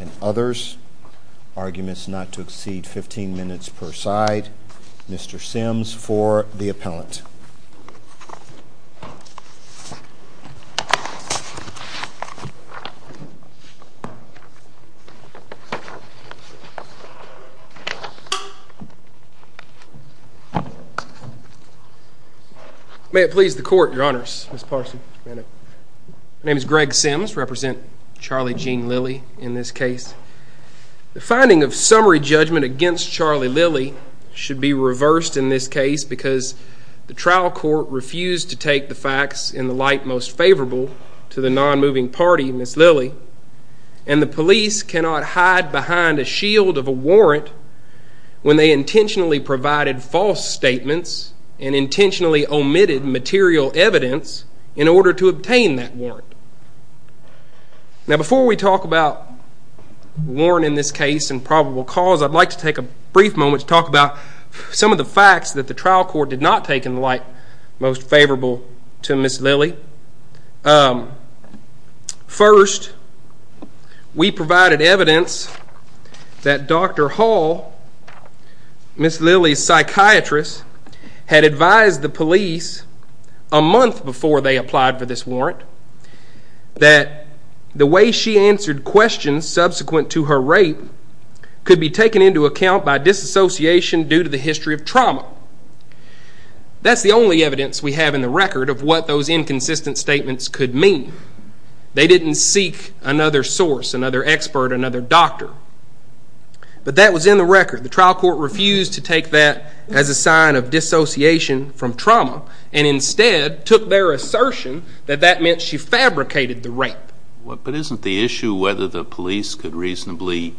and others. Arguments not to exceed 15 minutes per side. Mr. Sims for the appellant. May it please the court, your honors, Ms. Parson. My name is Greg Sims. I represent Charlie Jean Lilly in this case. The finding of summary judgment against Charlie Lilly should be reversed in this case because the trial court refused to take the facts in the light most favorable to the non-moving party, Ms. Lilly, and the police cannot hide behind a shield of a warrant when they intentionally provided false statements and intentionally omitted material evidence in order to obtain that warrant. Now before we talk about warrant in this case and probable cause, I'd like to take a brief moment to talk about some of the facts that the trial court did not take in the light most favorable to Ms. Lilly. First, we provided evidence that Dr. Hall, Ms. Lilly's psychiatrist, had advised the police a month before they applied for this warrant that the way she answered questions subsequent to her rape could be taken into account by disassociation due to the history of trauma. That's the only evidence we have in the record of what those inconsistent statements could mean. They didn't seek another source, another expert, another doctor. But that was in the record. The trial court refused to take that as a sign of dissociation from trauma and instead took their assertion that that meant she fabricated the rape. But isn't the police could reasonably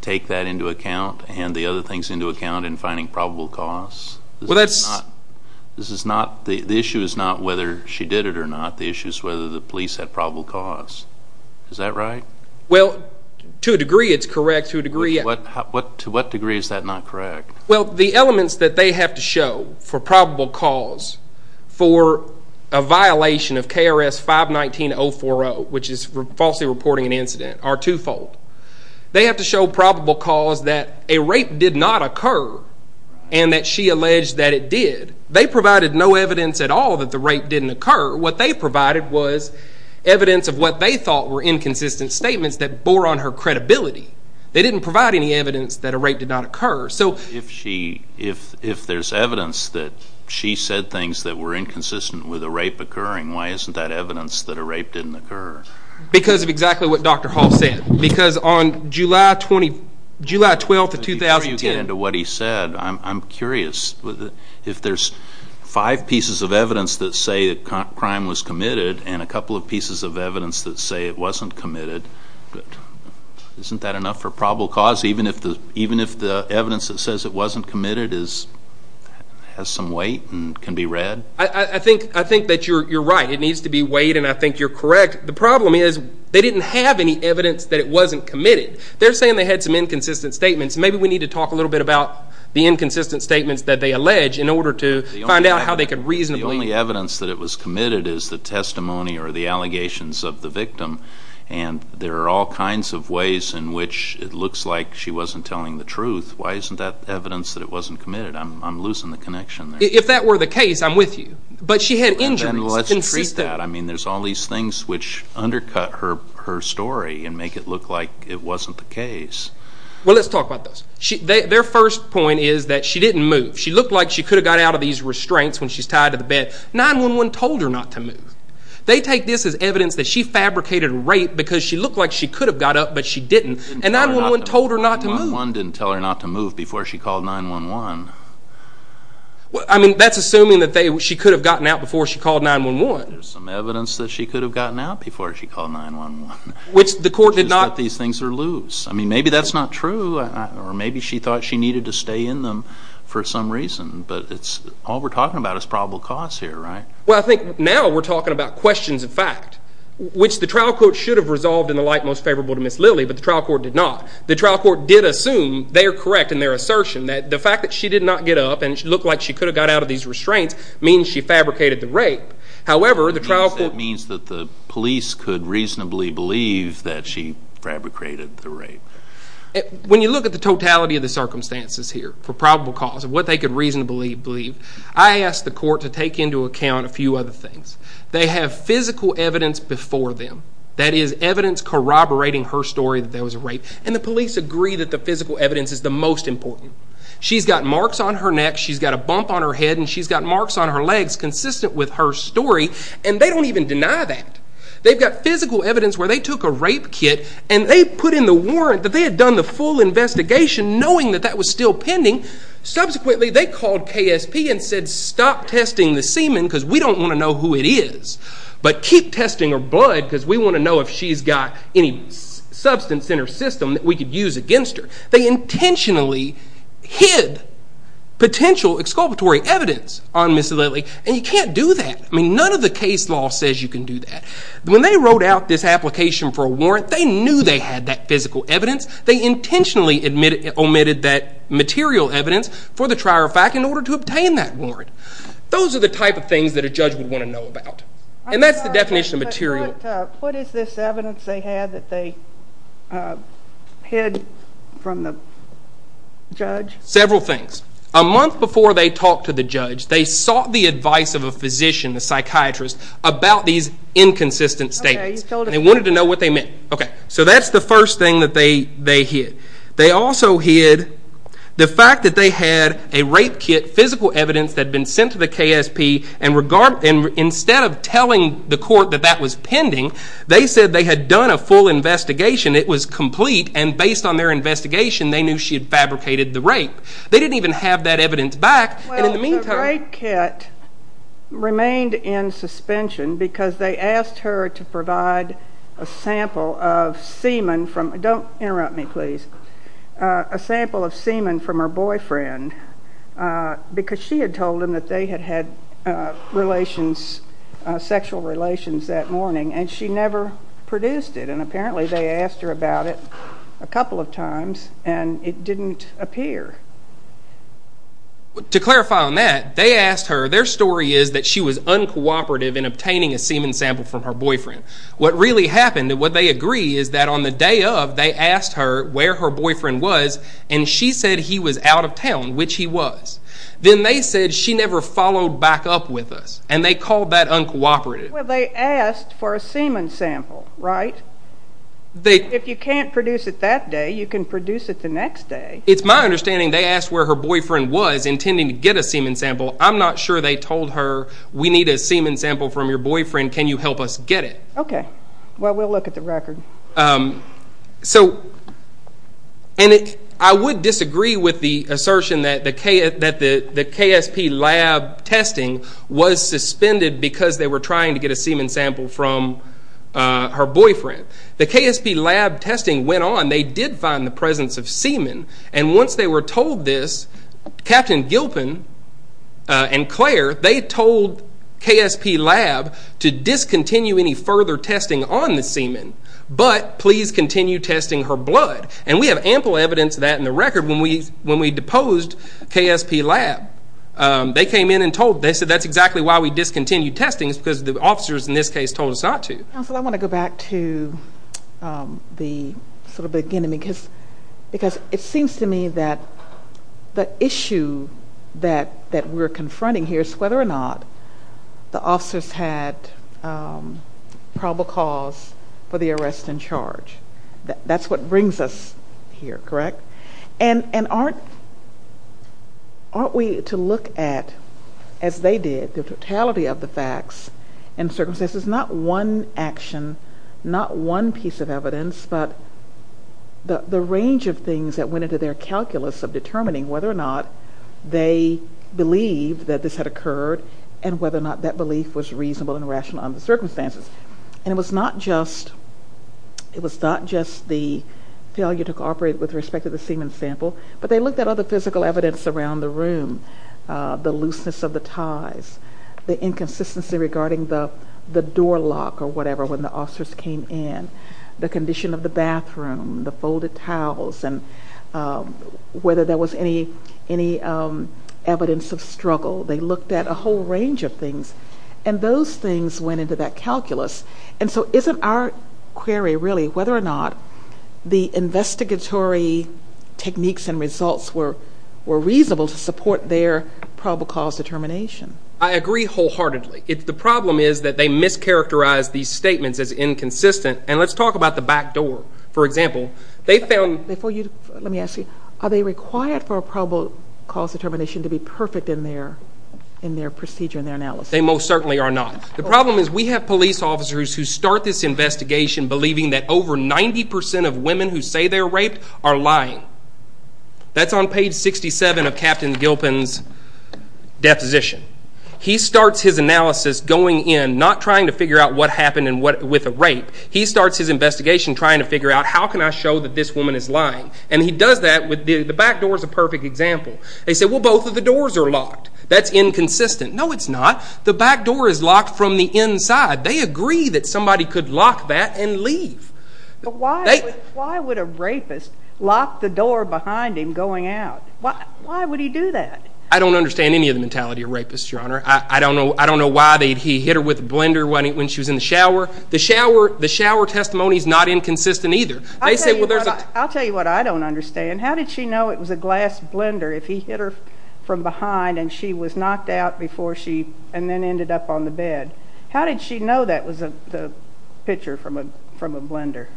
take that into account and the other things into account in finding probable cause? The issue is not whether she did it or not. The issue is whether the police had probable cause. Is that right? Well, to a degree it's correct. To what degree is that not correct? Well, the elements that they have to show for probable cause for a violation of KRS 519-040, which is falsely reporting an incident, are twofold. They have to show probable cause that a rape did not occur and that she alleged that it did. They provided no evidence at all that the rape didn't occur. What they provided was evidence of what they thought were inconsistent statements that bore on her credibility. They didn't provide any evidence that a rape did not occur. If there's evidence that she said things that were inconsistent with a rape occurring, why isn't that evidence that a rape didn't occur? Because of exactly what Dr. Hall said. Because on July 12, 2010... Before you get into what he said, I'm curious. If there's five pieces of evidence that say that crime was committed and a couple of pieces of evidence that say it wasn't committed, isn't that enough for probable cause even if the evidence that says it wasn't committed has some weight and can be read? I think that you're right. It needs to be weighed and I think you're correct. The problem is they didn't have any evidence that it wasn't committed. They're saying they had some inconsistent statements. Maybe we need to talk a little bit about the inconsistent statements that they allege in order to find out how they could reasonably... The only evidence that it was committed is the testimony or the allegations of the victim. And there are all kinds of ways in which it looks like she wasn't telling the truth. Why isn't that the case? I'm with you. But she had injuries. And let's treat that. I mean there's all these things which undercut her story and make it look like it wasn't the case. Well, let's talk about those. Their first point is that she didn't move. She looked like she could have got out of these restraints when she's tied to the bed. 911 told her not to move. They take this as evidence that she fabricated rape because she looked like she could have got up but she didn't. And 911 told her not to move. 911 didn't tell her not to move before she called 911. Well, I mean that's assuming that she could have gotten out before she called 911. There's some evidence that she could have gotten out before she called 911. Which the court did not... Which is that these things are loose. I mean maybe that's not true or maybe she thought she needed to stay in them for some reason. But all we're talking about is probable cause here, right? Well, I think now we're talking about questions of fact. Which the trial court should have resolved in the light most favorable to Ms. did not get up and she looked like she could have got out of these restraints means she fabricated the rape. However, the trial court... That means that the police could reasonably believe that she fabricated the rape. When you look at the totality of the circumstances here for probable cause of what they could reasonably believe, I asked the court to take into account a few other things. They have physical evidence before them. That is evidence corroborating her story that there was a rape. And the police agree that the physical evidence is the most important. She's got marks on her neck. She's got a bump on her head and she's got marks on her legs consistent with her story and they don't even deny that. They've got physical evidence where they took a rape kit and they put in the warrant that they had done the full investigation knowing that that was still pending. Subsequently they called KSP and said stop testing the semen because we don't want to know who it is. But keep testing her blood because we want to know if she's got any substance in her system that we could use against her. They intentionally hid potential exculpatory evidence on Ms. Lilley and you can't do that. None of the case law says you can do that. When they wrote out this application for a warrant, they knew they had that physical evidence. They intentionally omitted that material evidence for the trier of fact in order to obtain that warrant. Those are the type of things that a judge would want to know about. And that's the definition of material. What is this evidence they had that they hid from the judge? Several things. A month before they talked to the judge, they sought the advice of a physician, a psychiatrist, about these inconsistent statements. They wanted to know what they meant. So that's the first thing that they hid. They also hid the fact that they had a rape kit, physical that was pending. They said they had done a full investigation. It was complete and based on their investigation, they knew she had fabricated the rape. They didn't even have that evidence back. The rape kit remained in suspension because they asked her to provide a sample of semen from her boyfriend because she had told them that they had had sexual relations that morning and she never produced it. And apparently they asked her about it a couple of times and it didn't appear. To clarify on that, they asked her, their story is that she was uncooperative in obtaining a semen sample from her boyfriend. What really happened and what they agree is that on the day of, they asked her where her boyfriend was and she said he was out of town, which he was. Then they said she never followed back up with us and they called that uncooperative. Well they asked for a semen sample, right? If you can't produce it that day, you can produce it the next day. It's my understanding they asked where her boyfriend was intending to get a semen sample. I'm not sure they told her we need a semen sample from your boyfriend, can you help us get it? Okay, well we'll look at the record. So, and I would disagree with the assertion that the KSP lab tested her and was suspended because they were trying to get a semen sample from her boyfriend. The KSP lab testing went on, they did find the presence of semen and once they were told this, Captain Gilpin and Claire, they told KSP lab to discontinue any further testing on the semen, but please continue testing her blood. And we have ample evidence of that in the record when we deposed KSP lab. They came in and told, they said that's exactly why we discontinued testing, it's because the officers in this case told us not to. Counsel, I want to go back to the sort of beginning because it seems to me that the issue that we're confronting here is whether or not the officers had probable cause for the arrest and charge. That's what brings us here, correct? And aren't we to look at, as they did, the totality of the facts and circumstances, not one action, not one piece of evidence, but the range of things that went into their calculus of determining whether or not they believed that this had occurred and whether or not that belief was reasonable and rational on the circumstances. And it was not just, it was not just the failure to cooperate with respect to the semen sample, but they looked at other physical evidence around the room, the looseness of the ties, the inconsistency regarding the door lock or whatever when the officers came in, the condition of the bathroom, the folded towels, and whether there was any evidence of struggle. They looked at a whole range of things and those things went into that calculus. And so isn't our query really whether or not the investigatory techniques and results were reasonable to support their probable cause determination? I agree wholeheartedly. The problem is that they mischaracterized these statements as inconsistent and let's talk about the back door. For example, they found... Before you, let me ask you, are they required for a probable cause determination to be perfect in their procedure, in their analysis? They most certainly are not. The problem is we have police officers who start this investigation believing that over 90% of women who say they were raped are lying. That's on page 67 of Captain Gilpin's deposition. He starts his analysis going in, not trying to figure out what happened with the rape, he starts his investigation trying to figure out how can I show that this woman is lying. And he does that with, the back door is a perfect example. They say well both of the doors are locked. That's inconsistent. No it's not. The back door is locked from the inside. They agree that somebody could lock that and leave. Why would a rapist lock the door behind him going out? Why would he do that? I don't understand any of the mentality of rapists, Your Honor. I don't know why he hit her with a blender when she was in the shower. The shower testimony is not inconsistent either. I'll tell you what I don't understand. How did she know it was a glass blender if he hit her from behind and she was knocked out before she, and then ended up on the bed? How did she know that was a pitcher from a blender?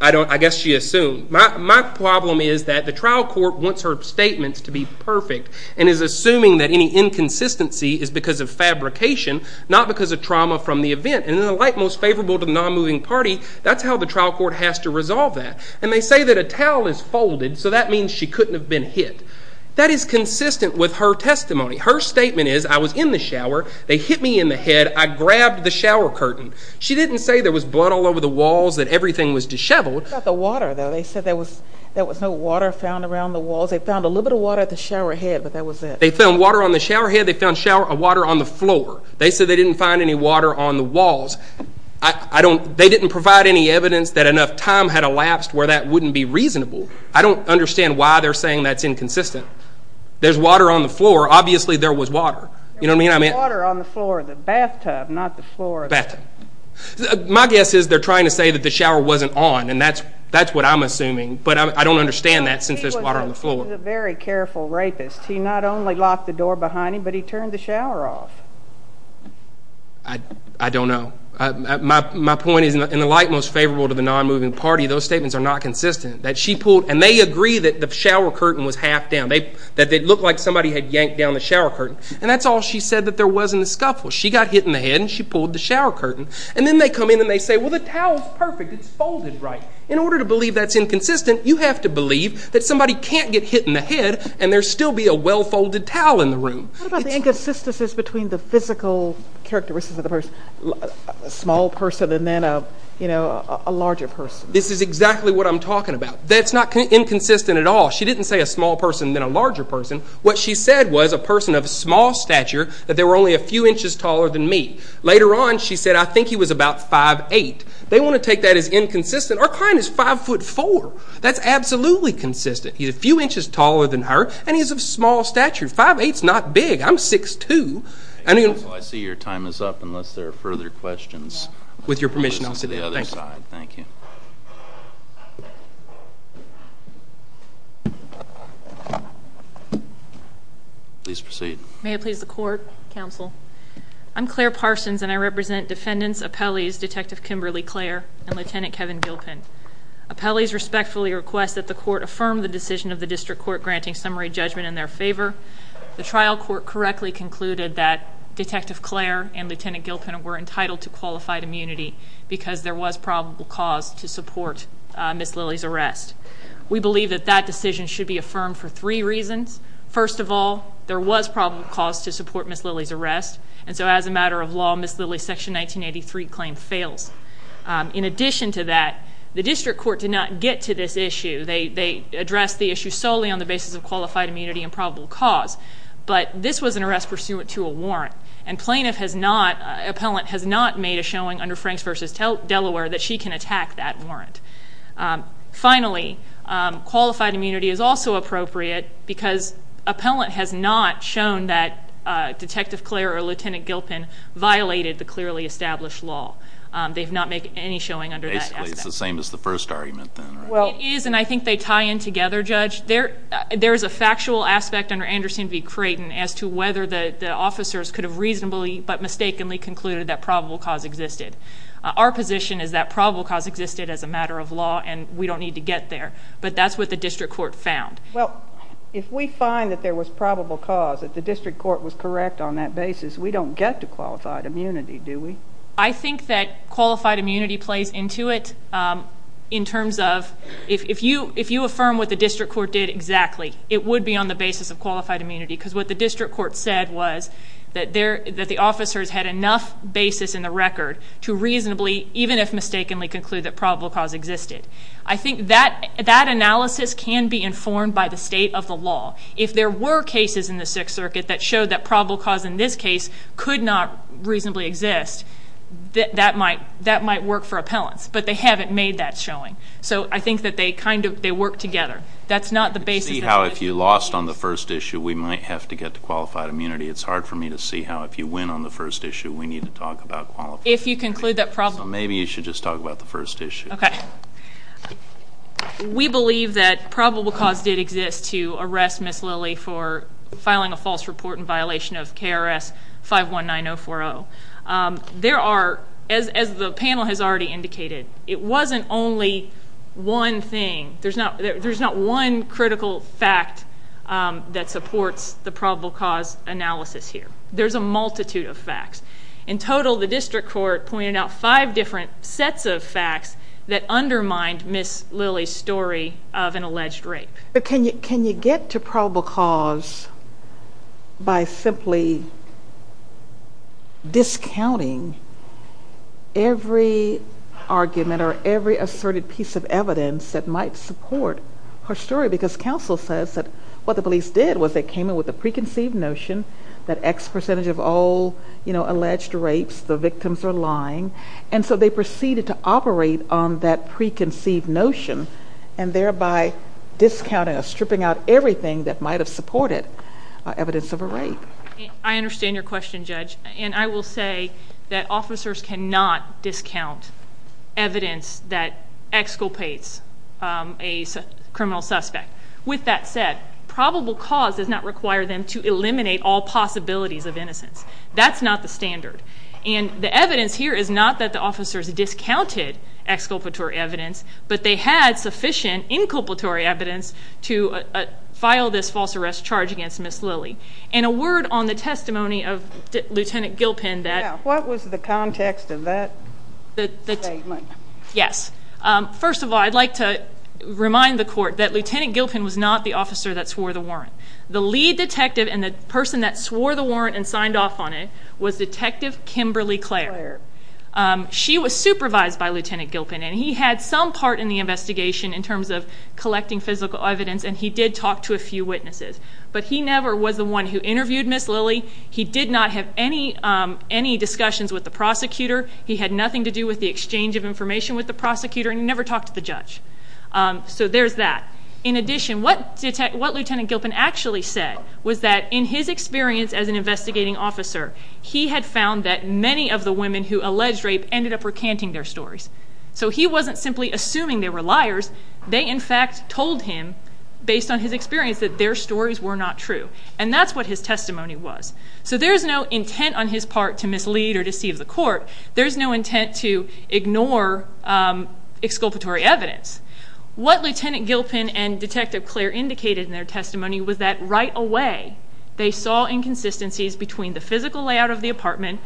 I guess she assumed. My problem is that the trial court wants her statements to be perfect and is assuming that any inconsistency is because of fabrication, not because of trauma from the event. And in the light most favorable to the non-moving party, that's how the trial court has to resolve that. And they say that a towel is folded so that means she couldn't have been hit. That is consistent with her testimony. Her statement is, I was in the shower, they hit me in the head, I grabbed the shower curtain. She didn't say there was blood all over the walls, that everything was disheveled. What about the water though? They said there was no water found around the walls. They found a little bit of water at the shower head, but that was it. They found water on the shower head, they found water on the floor. They said they didn't find any water on the walls. They didn't provide any evidence that enough time had elapsed where that wouldn't be reasonable. I don't understand why they're saying that's inconsistent. There's water on the floor, obviously there was water. There was water on the floor of the bathtub, not the floor of the... My guess is they're trying to say that the shower wasn't on, and that's what I'm assuming, but I don't understand that since there's water on the floor. He was a very careful rapist. He not only locked the door behind him, but he turned the shower off. I don't know. My point is, in the light most favorable to the non-moving party, those statements are not consistent, and they agree that the shower curtain was half down, that it looked like somebody had yanked down the shower curtain, and that's all she said that there was in the scuffle. She got hit in the head and she pulled the shower curtain, and then they come in and they say, well, the towel's perfect, it's folded right. In order to believe that's inconsistent, you have to believe that somebody can't get hit in the head and there'd still be a well-folded towel in the room. What about the inconsistencies between the physical characteristics of the person, a small person and then a larger person? This is exactly what I'm talking about. That's not inconsistent at all. She didn't say a small person and then a larger person. What she said was a person of small stature, that they were only a few inches taller than me. Later on, she said, I think he was about 5'8". They want to take that as inconsistent. Our client is 5'4". That's absolutely consistent. He's a few inches taller than her, and he's of small stature. 5'8's not big. I'm 6'2". I see your time is up unless there are further questions. With your permission, I'll sit down. Thank you. Please proceed. May it please the court, counsel. I'm Claire Parsons, and I represent defendants, appellees, Detective Kimberly Clair, and Lieutenant Kevin Gilpin. Appellees respectfully request that the court affirm the decision of the district court granting summary judgment in their favor. The trial court correctly concluded that Detective was probable cause to support Ms. Lillie's arrest. We believe that that decision should be affirmed for three reasons. First of all, there was probable cause to support Ms. Lillie's arrest, and so as a matter of law, Ms. Lillie's Section 1983 claim fails. In addition to that, the district court did not get to this issue. They addressed the issue solely on the basis of qualified immunity and probable cause, but this was an arrest pursuant to a warrant, and plaintiff has not, appellant has not made a showing under Franks v. Delaware that she can attack that warrant. Finally, qualified immunity is also appropriate because appellant has not shown that Detective Clair or Lieutenant Gilpin violated the clearly established law. They've not made any showing under that aspect. Basically, it's the same as the first argument then, right? It is, and I think they tie in together, Judge. There is a factual aspect under Anderson v. Delaware. We have reasonably but mistakenly concluded that probable cause existed. Our position is that probable cause existed as a matter of law and we don't need to get there, but that's what the district court found. Well, if we find that there was probable cause, that the district court was correct on that basis, we don't get to qualified immunity, do we? I think that qualified immunity plays into it in terms of if you affirm what the district court did exactly, it would be on the basis of qualified immunity because what the district court said was that the officers had enough basis in the record to reasonably, even if mistakenly, conclude that probable cause existed. I think that analysis can be informed by the state of the law. If there were cases in the Sixth Circuit that showed that probable cause in this case could not reasonably exist, that might work for appellants, but they haven't made that showing. So I think that they kind of work together. That's not the basis. It's hard for me to see how if you lost on the first issue, we might have to get to qualified immunity. It's hard for me to see how if you win on the first issue, we need to talk about qualified immunity. If you conclude that probable cause. Maybe you should just talk about the first issue. We believe that probable cause did exist to arrest Ms. Lilly for filing a false report in violation of KRS 519-040. There are, as the panel has already indicated, it wasn't only one thing. There's not one critical fact that supports the probable cause analysis here. There's a multitude of facts. In total, the district court pointed out five different sets of facts that undermined Ms. Lilly's story of an alleged rape. Can you get to probable cause by simply discounting every argument or every argument that Ms. Lilly asserted piece of evidence that might support her story? Because counsel says that what the police did was they came in with a preconceived notion that X percentage of all alleged rapes, the victims are lying. And so they proceeded to operate on that preconceived notion and thereby discounting or stripping out everything that might have supported evidence of a rape. I understand your question, Judge. And I will say that officers cannot discount evidence that exculpates a criminal suspect. With that said, probable cause does not require them to eliminate all possibilities of innocence. That's not the standard. And the evidence here is not that the officers discounted exculpatory evidence, but they had sufficient inculpatory evidence to file this false arrest charge against Ms. Lilly. And a word on the testimony of Lieutenant Gilpin that... Yes. First of all, I'd like to remind the court that Lieutenant Gilpin was not the officer that swore the warrant. The lead detective and the person that swore the warrant and signed off on it was Detective Kimberly Clare. She was supervised by Lieutenant Gilpin, and he had some part in the investigation in terms of collecting physical evidence, and he did talk to a few witnesses. But he never was the one who interviewed Ms. Lilly. He did not have any discussions with the prosecutor. He had nothing to do with the exchange of the prosecutor, and he never talked to the judge. So there's that. In addition, what Lieutenant Gilpin actually said was that in his experience as an investigating officer, he had found that many of the women who alleged rape ended up recanting their stories. So he wasn't simply assuming they were liars. They, in fact, told him, based on his experience, that their stories were not true. And that's what his testimony was. So there's no intent on his part to mislead or deceive the court. There's no intent to ignore exculpatory evidence. What Lieutenant Gilpin and Detective Clare indicated in their testimony was that right away, they saw inconsistencies between the physical layout of the apartment,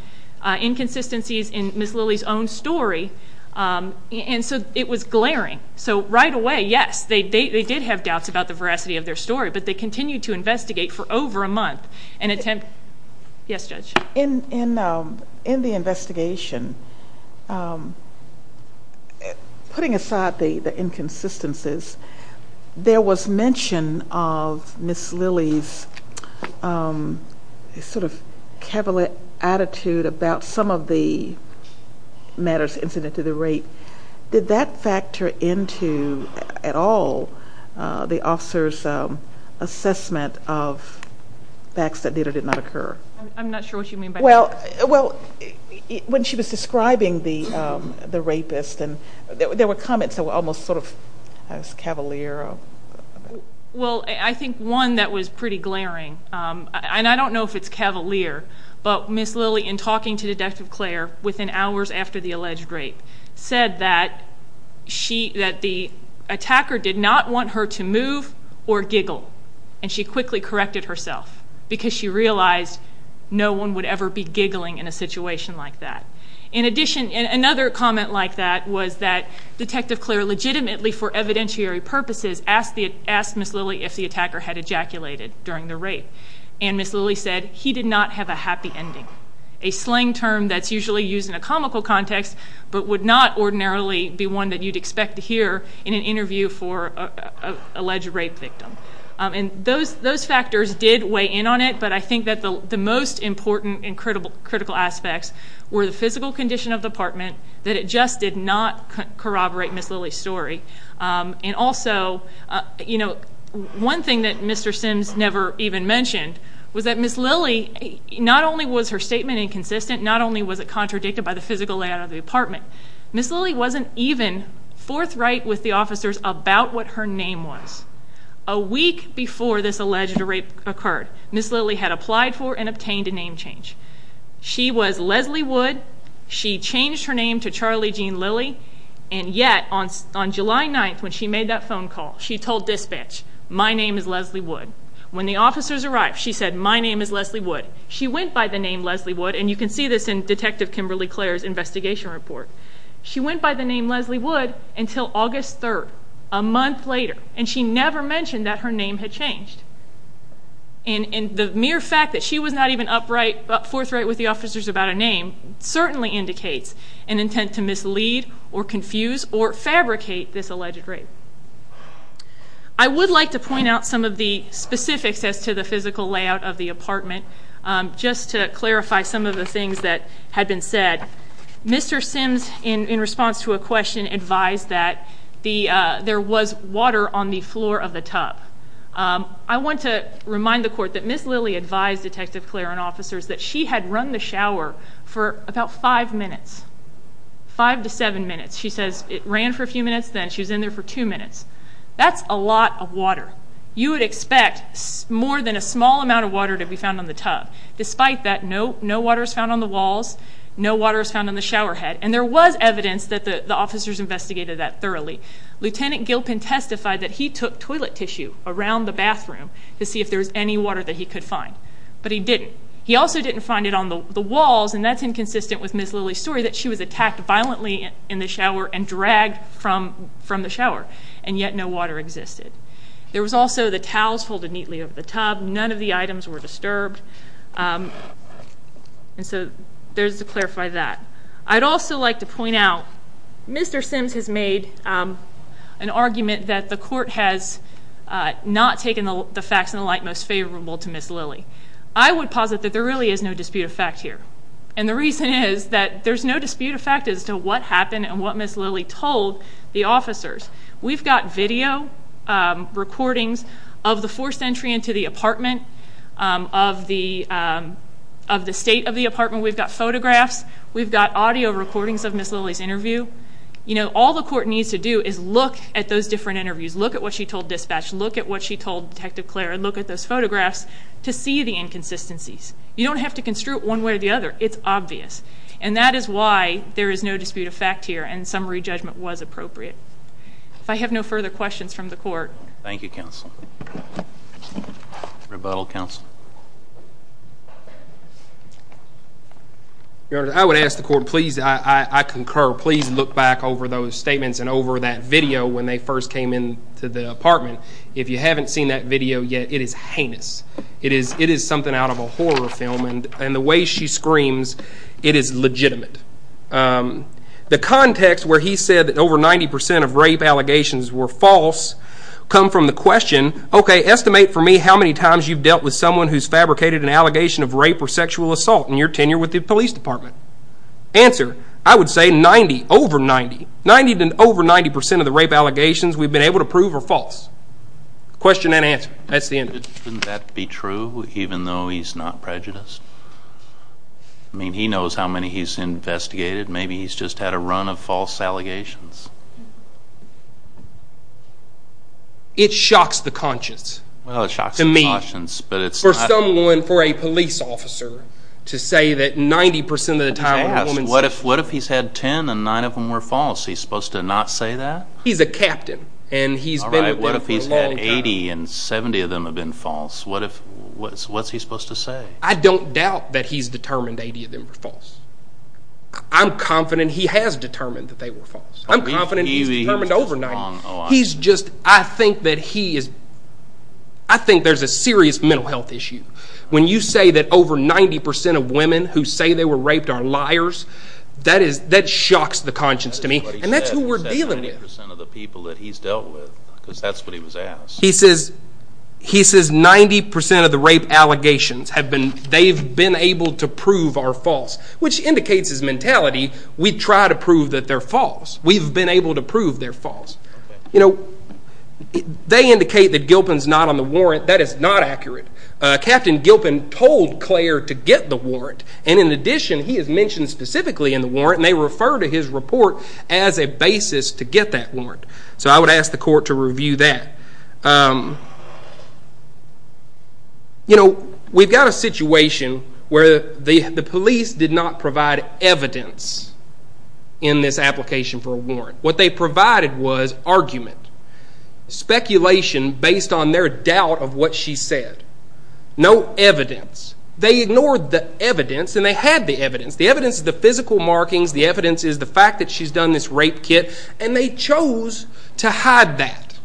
inconsistencies in Ms. Lilly's own story, and so it was glaring. So right away, yes, they did have doubts about the veracity of their story, but they continued to investigate for over a month and attempt to prove it. Yes, Judge? In the investigation, putting aside the inconsistencies, there was mention of Ms. Lilly's sort of cavalette attitude about some of the matters incident to the rape. Did that factor into at all the officer's assessment of facts that data did not occur? I'm not sure what you mean by that. Well, when she was describing the rapist, there were comments that were almost sort of cavalier. Well, I think one that was pretty glaring, and I don't know if it's cavalier, but Ms. Lilly, in talking to Detective Clare within hours after the alleged rape, said that the attacker did not want her to move or giggle, and she quickly corrected herself because she realized no one would ever be giggling in a situation like that. In addition, another comment like that was that Detective Clare legitimately, for evidentiary purposes, asked Ms. Lilly if the attacker had ejaculated during the rape, and Ms. Lilly said he did not have a happy ending, a slang term that's usually used in a comical context but would not ordinarily be one that you'd expect to rape victim. And those factors did weigh in on it, but I think that the most important and critical aspects were the physical condition of the apartment, that it just did not corroborate Ms. Lilly's story. And also, you know, one thing that Mr. Sims never even mentioned was that Ms. Lilly, not only was her statement inconsistent, not only was it contradicted by the physical layout of the apartment, Ms. Lilly wasn't even forthright with the officers about what her name was. A week before this alleged rape occurred, Ms. Lilly had applied for and obtained a name change. She was Leslie Wood. She changed her name to Charlie Jean Lilly, and yet, on July 9th, when she made that phone call, she told dispatch, my name is Leslie Wood. When the officers arrived, she said, my name is Leslie Wood. She went by the name Leslie Wood, and you can see this in Detective Kimberly Clare's investigation report. She went by the name Leslie Wood until August 3rd, a month later, and she never mentioned that her name had changed. And the mere fact that she was not even upright, forthright with the officers about a name certainly indicates an intent to mislead or confuse or fabricate this alleged rape. I would like to point out some of the specifics as to the physical layout of the apartment. Just to clarify some of the things that had been said, Mr. Sims, in response to a question, advised that there was water on the floor of the tub. I want to remind the court that Ms. Lilly advised Detective Clare and officers that she had run the shower for about five minutes, five to seven minutes. She says it ran for a few minutes, then she was in there for two minutes. That's a lot of water. You would expect more than a small amount of water to be found on the tub. Despite that, no water is found on the walls, no water is found on the shower head, and there was evidence that the officers investigated that thoroughly. Lieutenant Gilpin testified that he took toilet tissue around the bathroom to see if there was any water that he could find, but he didn't. He also didn't find it on the walls, and that's inconsistent with Ms. Lilly's story that she was attacked violently in the shower and dragged from the shower, and yet no water existed. There was also the towels folded neatly over the tub. None of the items were disturbed, and so there's to clarify that. I'd also like to point out, Mr. Sims has made an argument that the court has not taken the facts in the light most favorable to Ms. Lilly. I would posit that there really is no dispute of fact here, and the reason is that there's no dispute of fact as to what happened and what Ms. Lilly told the officers. We've got video recordings of the forced entry into the apartment, of the state of the apartment. We've got photographs. We've got audio recordings of Ms. Lilly's interview. You know, all the court needs to do is look at those different interviews, look at what she told dispatch, look at what she told Detective Clare, look at those photographs to see the inconsistencies. You don't have to construe it one way or the other. It's obvious, and that is why there is no dispute of fact here and summary judgment was appropriate. If I have no further questions from the court. Thank you, counsel. Rebuttal, counsel. Your Honor, I would ask the court, please, I concur, please look back over those statements and over that video when they first came in to the apartment. If you haven't seen that video yet, it is heinous. It is something out of a horror film and the way she screams, it is legitimate. The context where he said that over 90% of rape allegations were false come from the question, okay, estimate for me how many times you've dealt with someone who's fabricated an allegation of rape or sexual assault in your tenure with the police department. Answer, I would say 90, over 90. 90 to over 90% of the rape allegations we've been able to prove are false. Question and answer. That's not prejudice. I mean, he knows how many he's investigated. Maybe he's just had a run of false allegations. It shocks the conscience. Well, it shocks the conscience, but it's not. For someone, for a police officer to say that 90% of the time a woman says. What if he's had 10 and 9 of them were false? He's supposed to not say that? He's a captain and he's been with them for a long time. Alright, what if he's had 80 and 70 of them have been false? What's he supposed to say? I don't doubt that he's determined 80 of them were false. I'm confident he has determined that they were false. I'm confident he's determined over 90. He's just, I think that he is, I think there's a serious mental health issue. When you say that over 90% of women who say they were raped are liars, that shocks the conscience to me, and that's who we're dealing with. He said 90% of the people that he's dealt with, that's what he was asked. He says 90% of the rape allegations, they've been able to prove are false, which indicates his mentality. We try to prove that they're false. We've been able to prove they're false. They indicate that Gilpin's not on the warrant. That is not accurate. Captain Gilpin told Claire to get the warrant, and in addition, he is mentioned specifically in the warrant, and they refer to his report as a basis to get that warrant. I would ask the court to review that. We've got a situation where the police did not provide evidence in this application for a warrant. What they provided was argument, speculation based on their doubt of what she said. No evidence. They ignored the evidence, and they had the evidence. The evidence is the physical markings. The evidence is the fact that she's done this rape kit, and they chose to hide that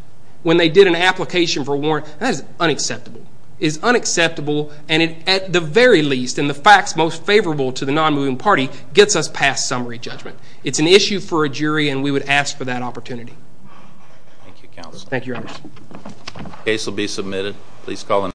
when they did an application for a warrant. That is unacceptable. It is unacceptable, and at the very least, in the facts most favorable to the non-moving party, gets us past summary judgment. It's an issue for a jury, and we would ask for that opportunity. Thank you, Your Honor.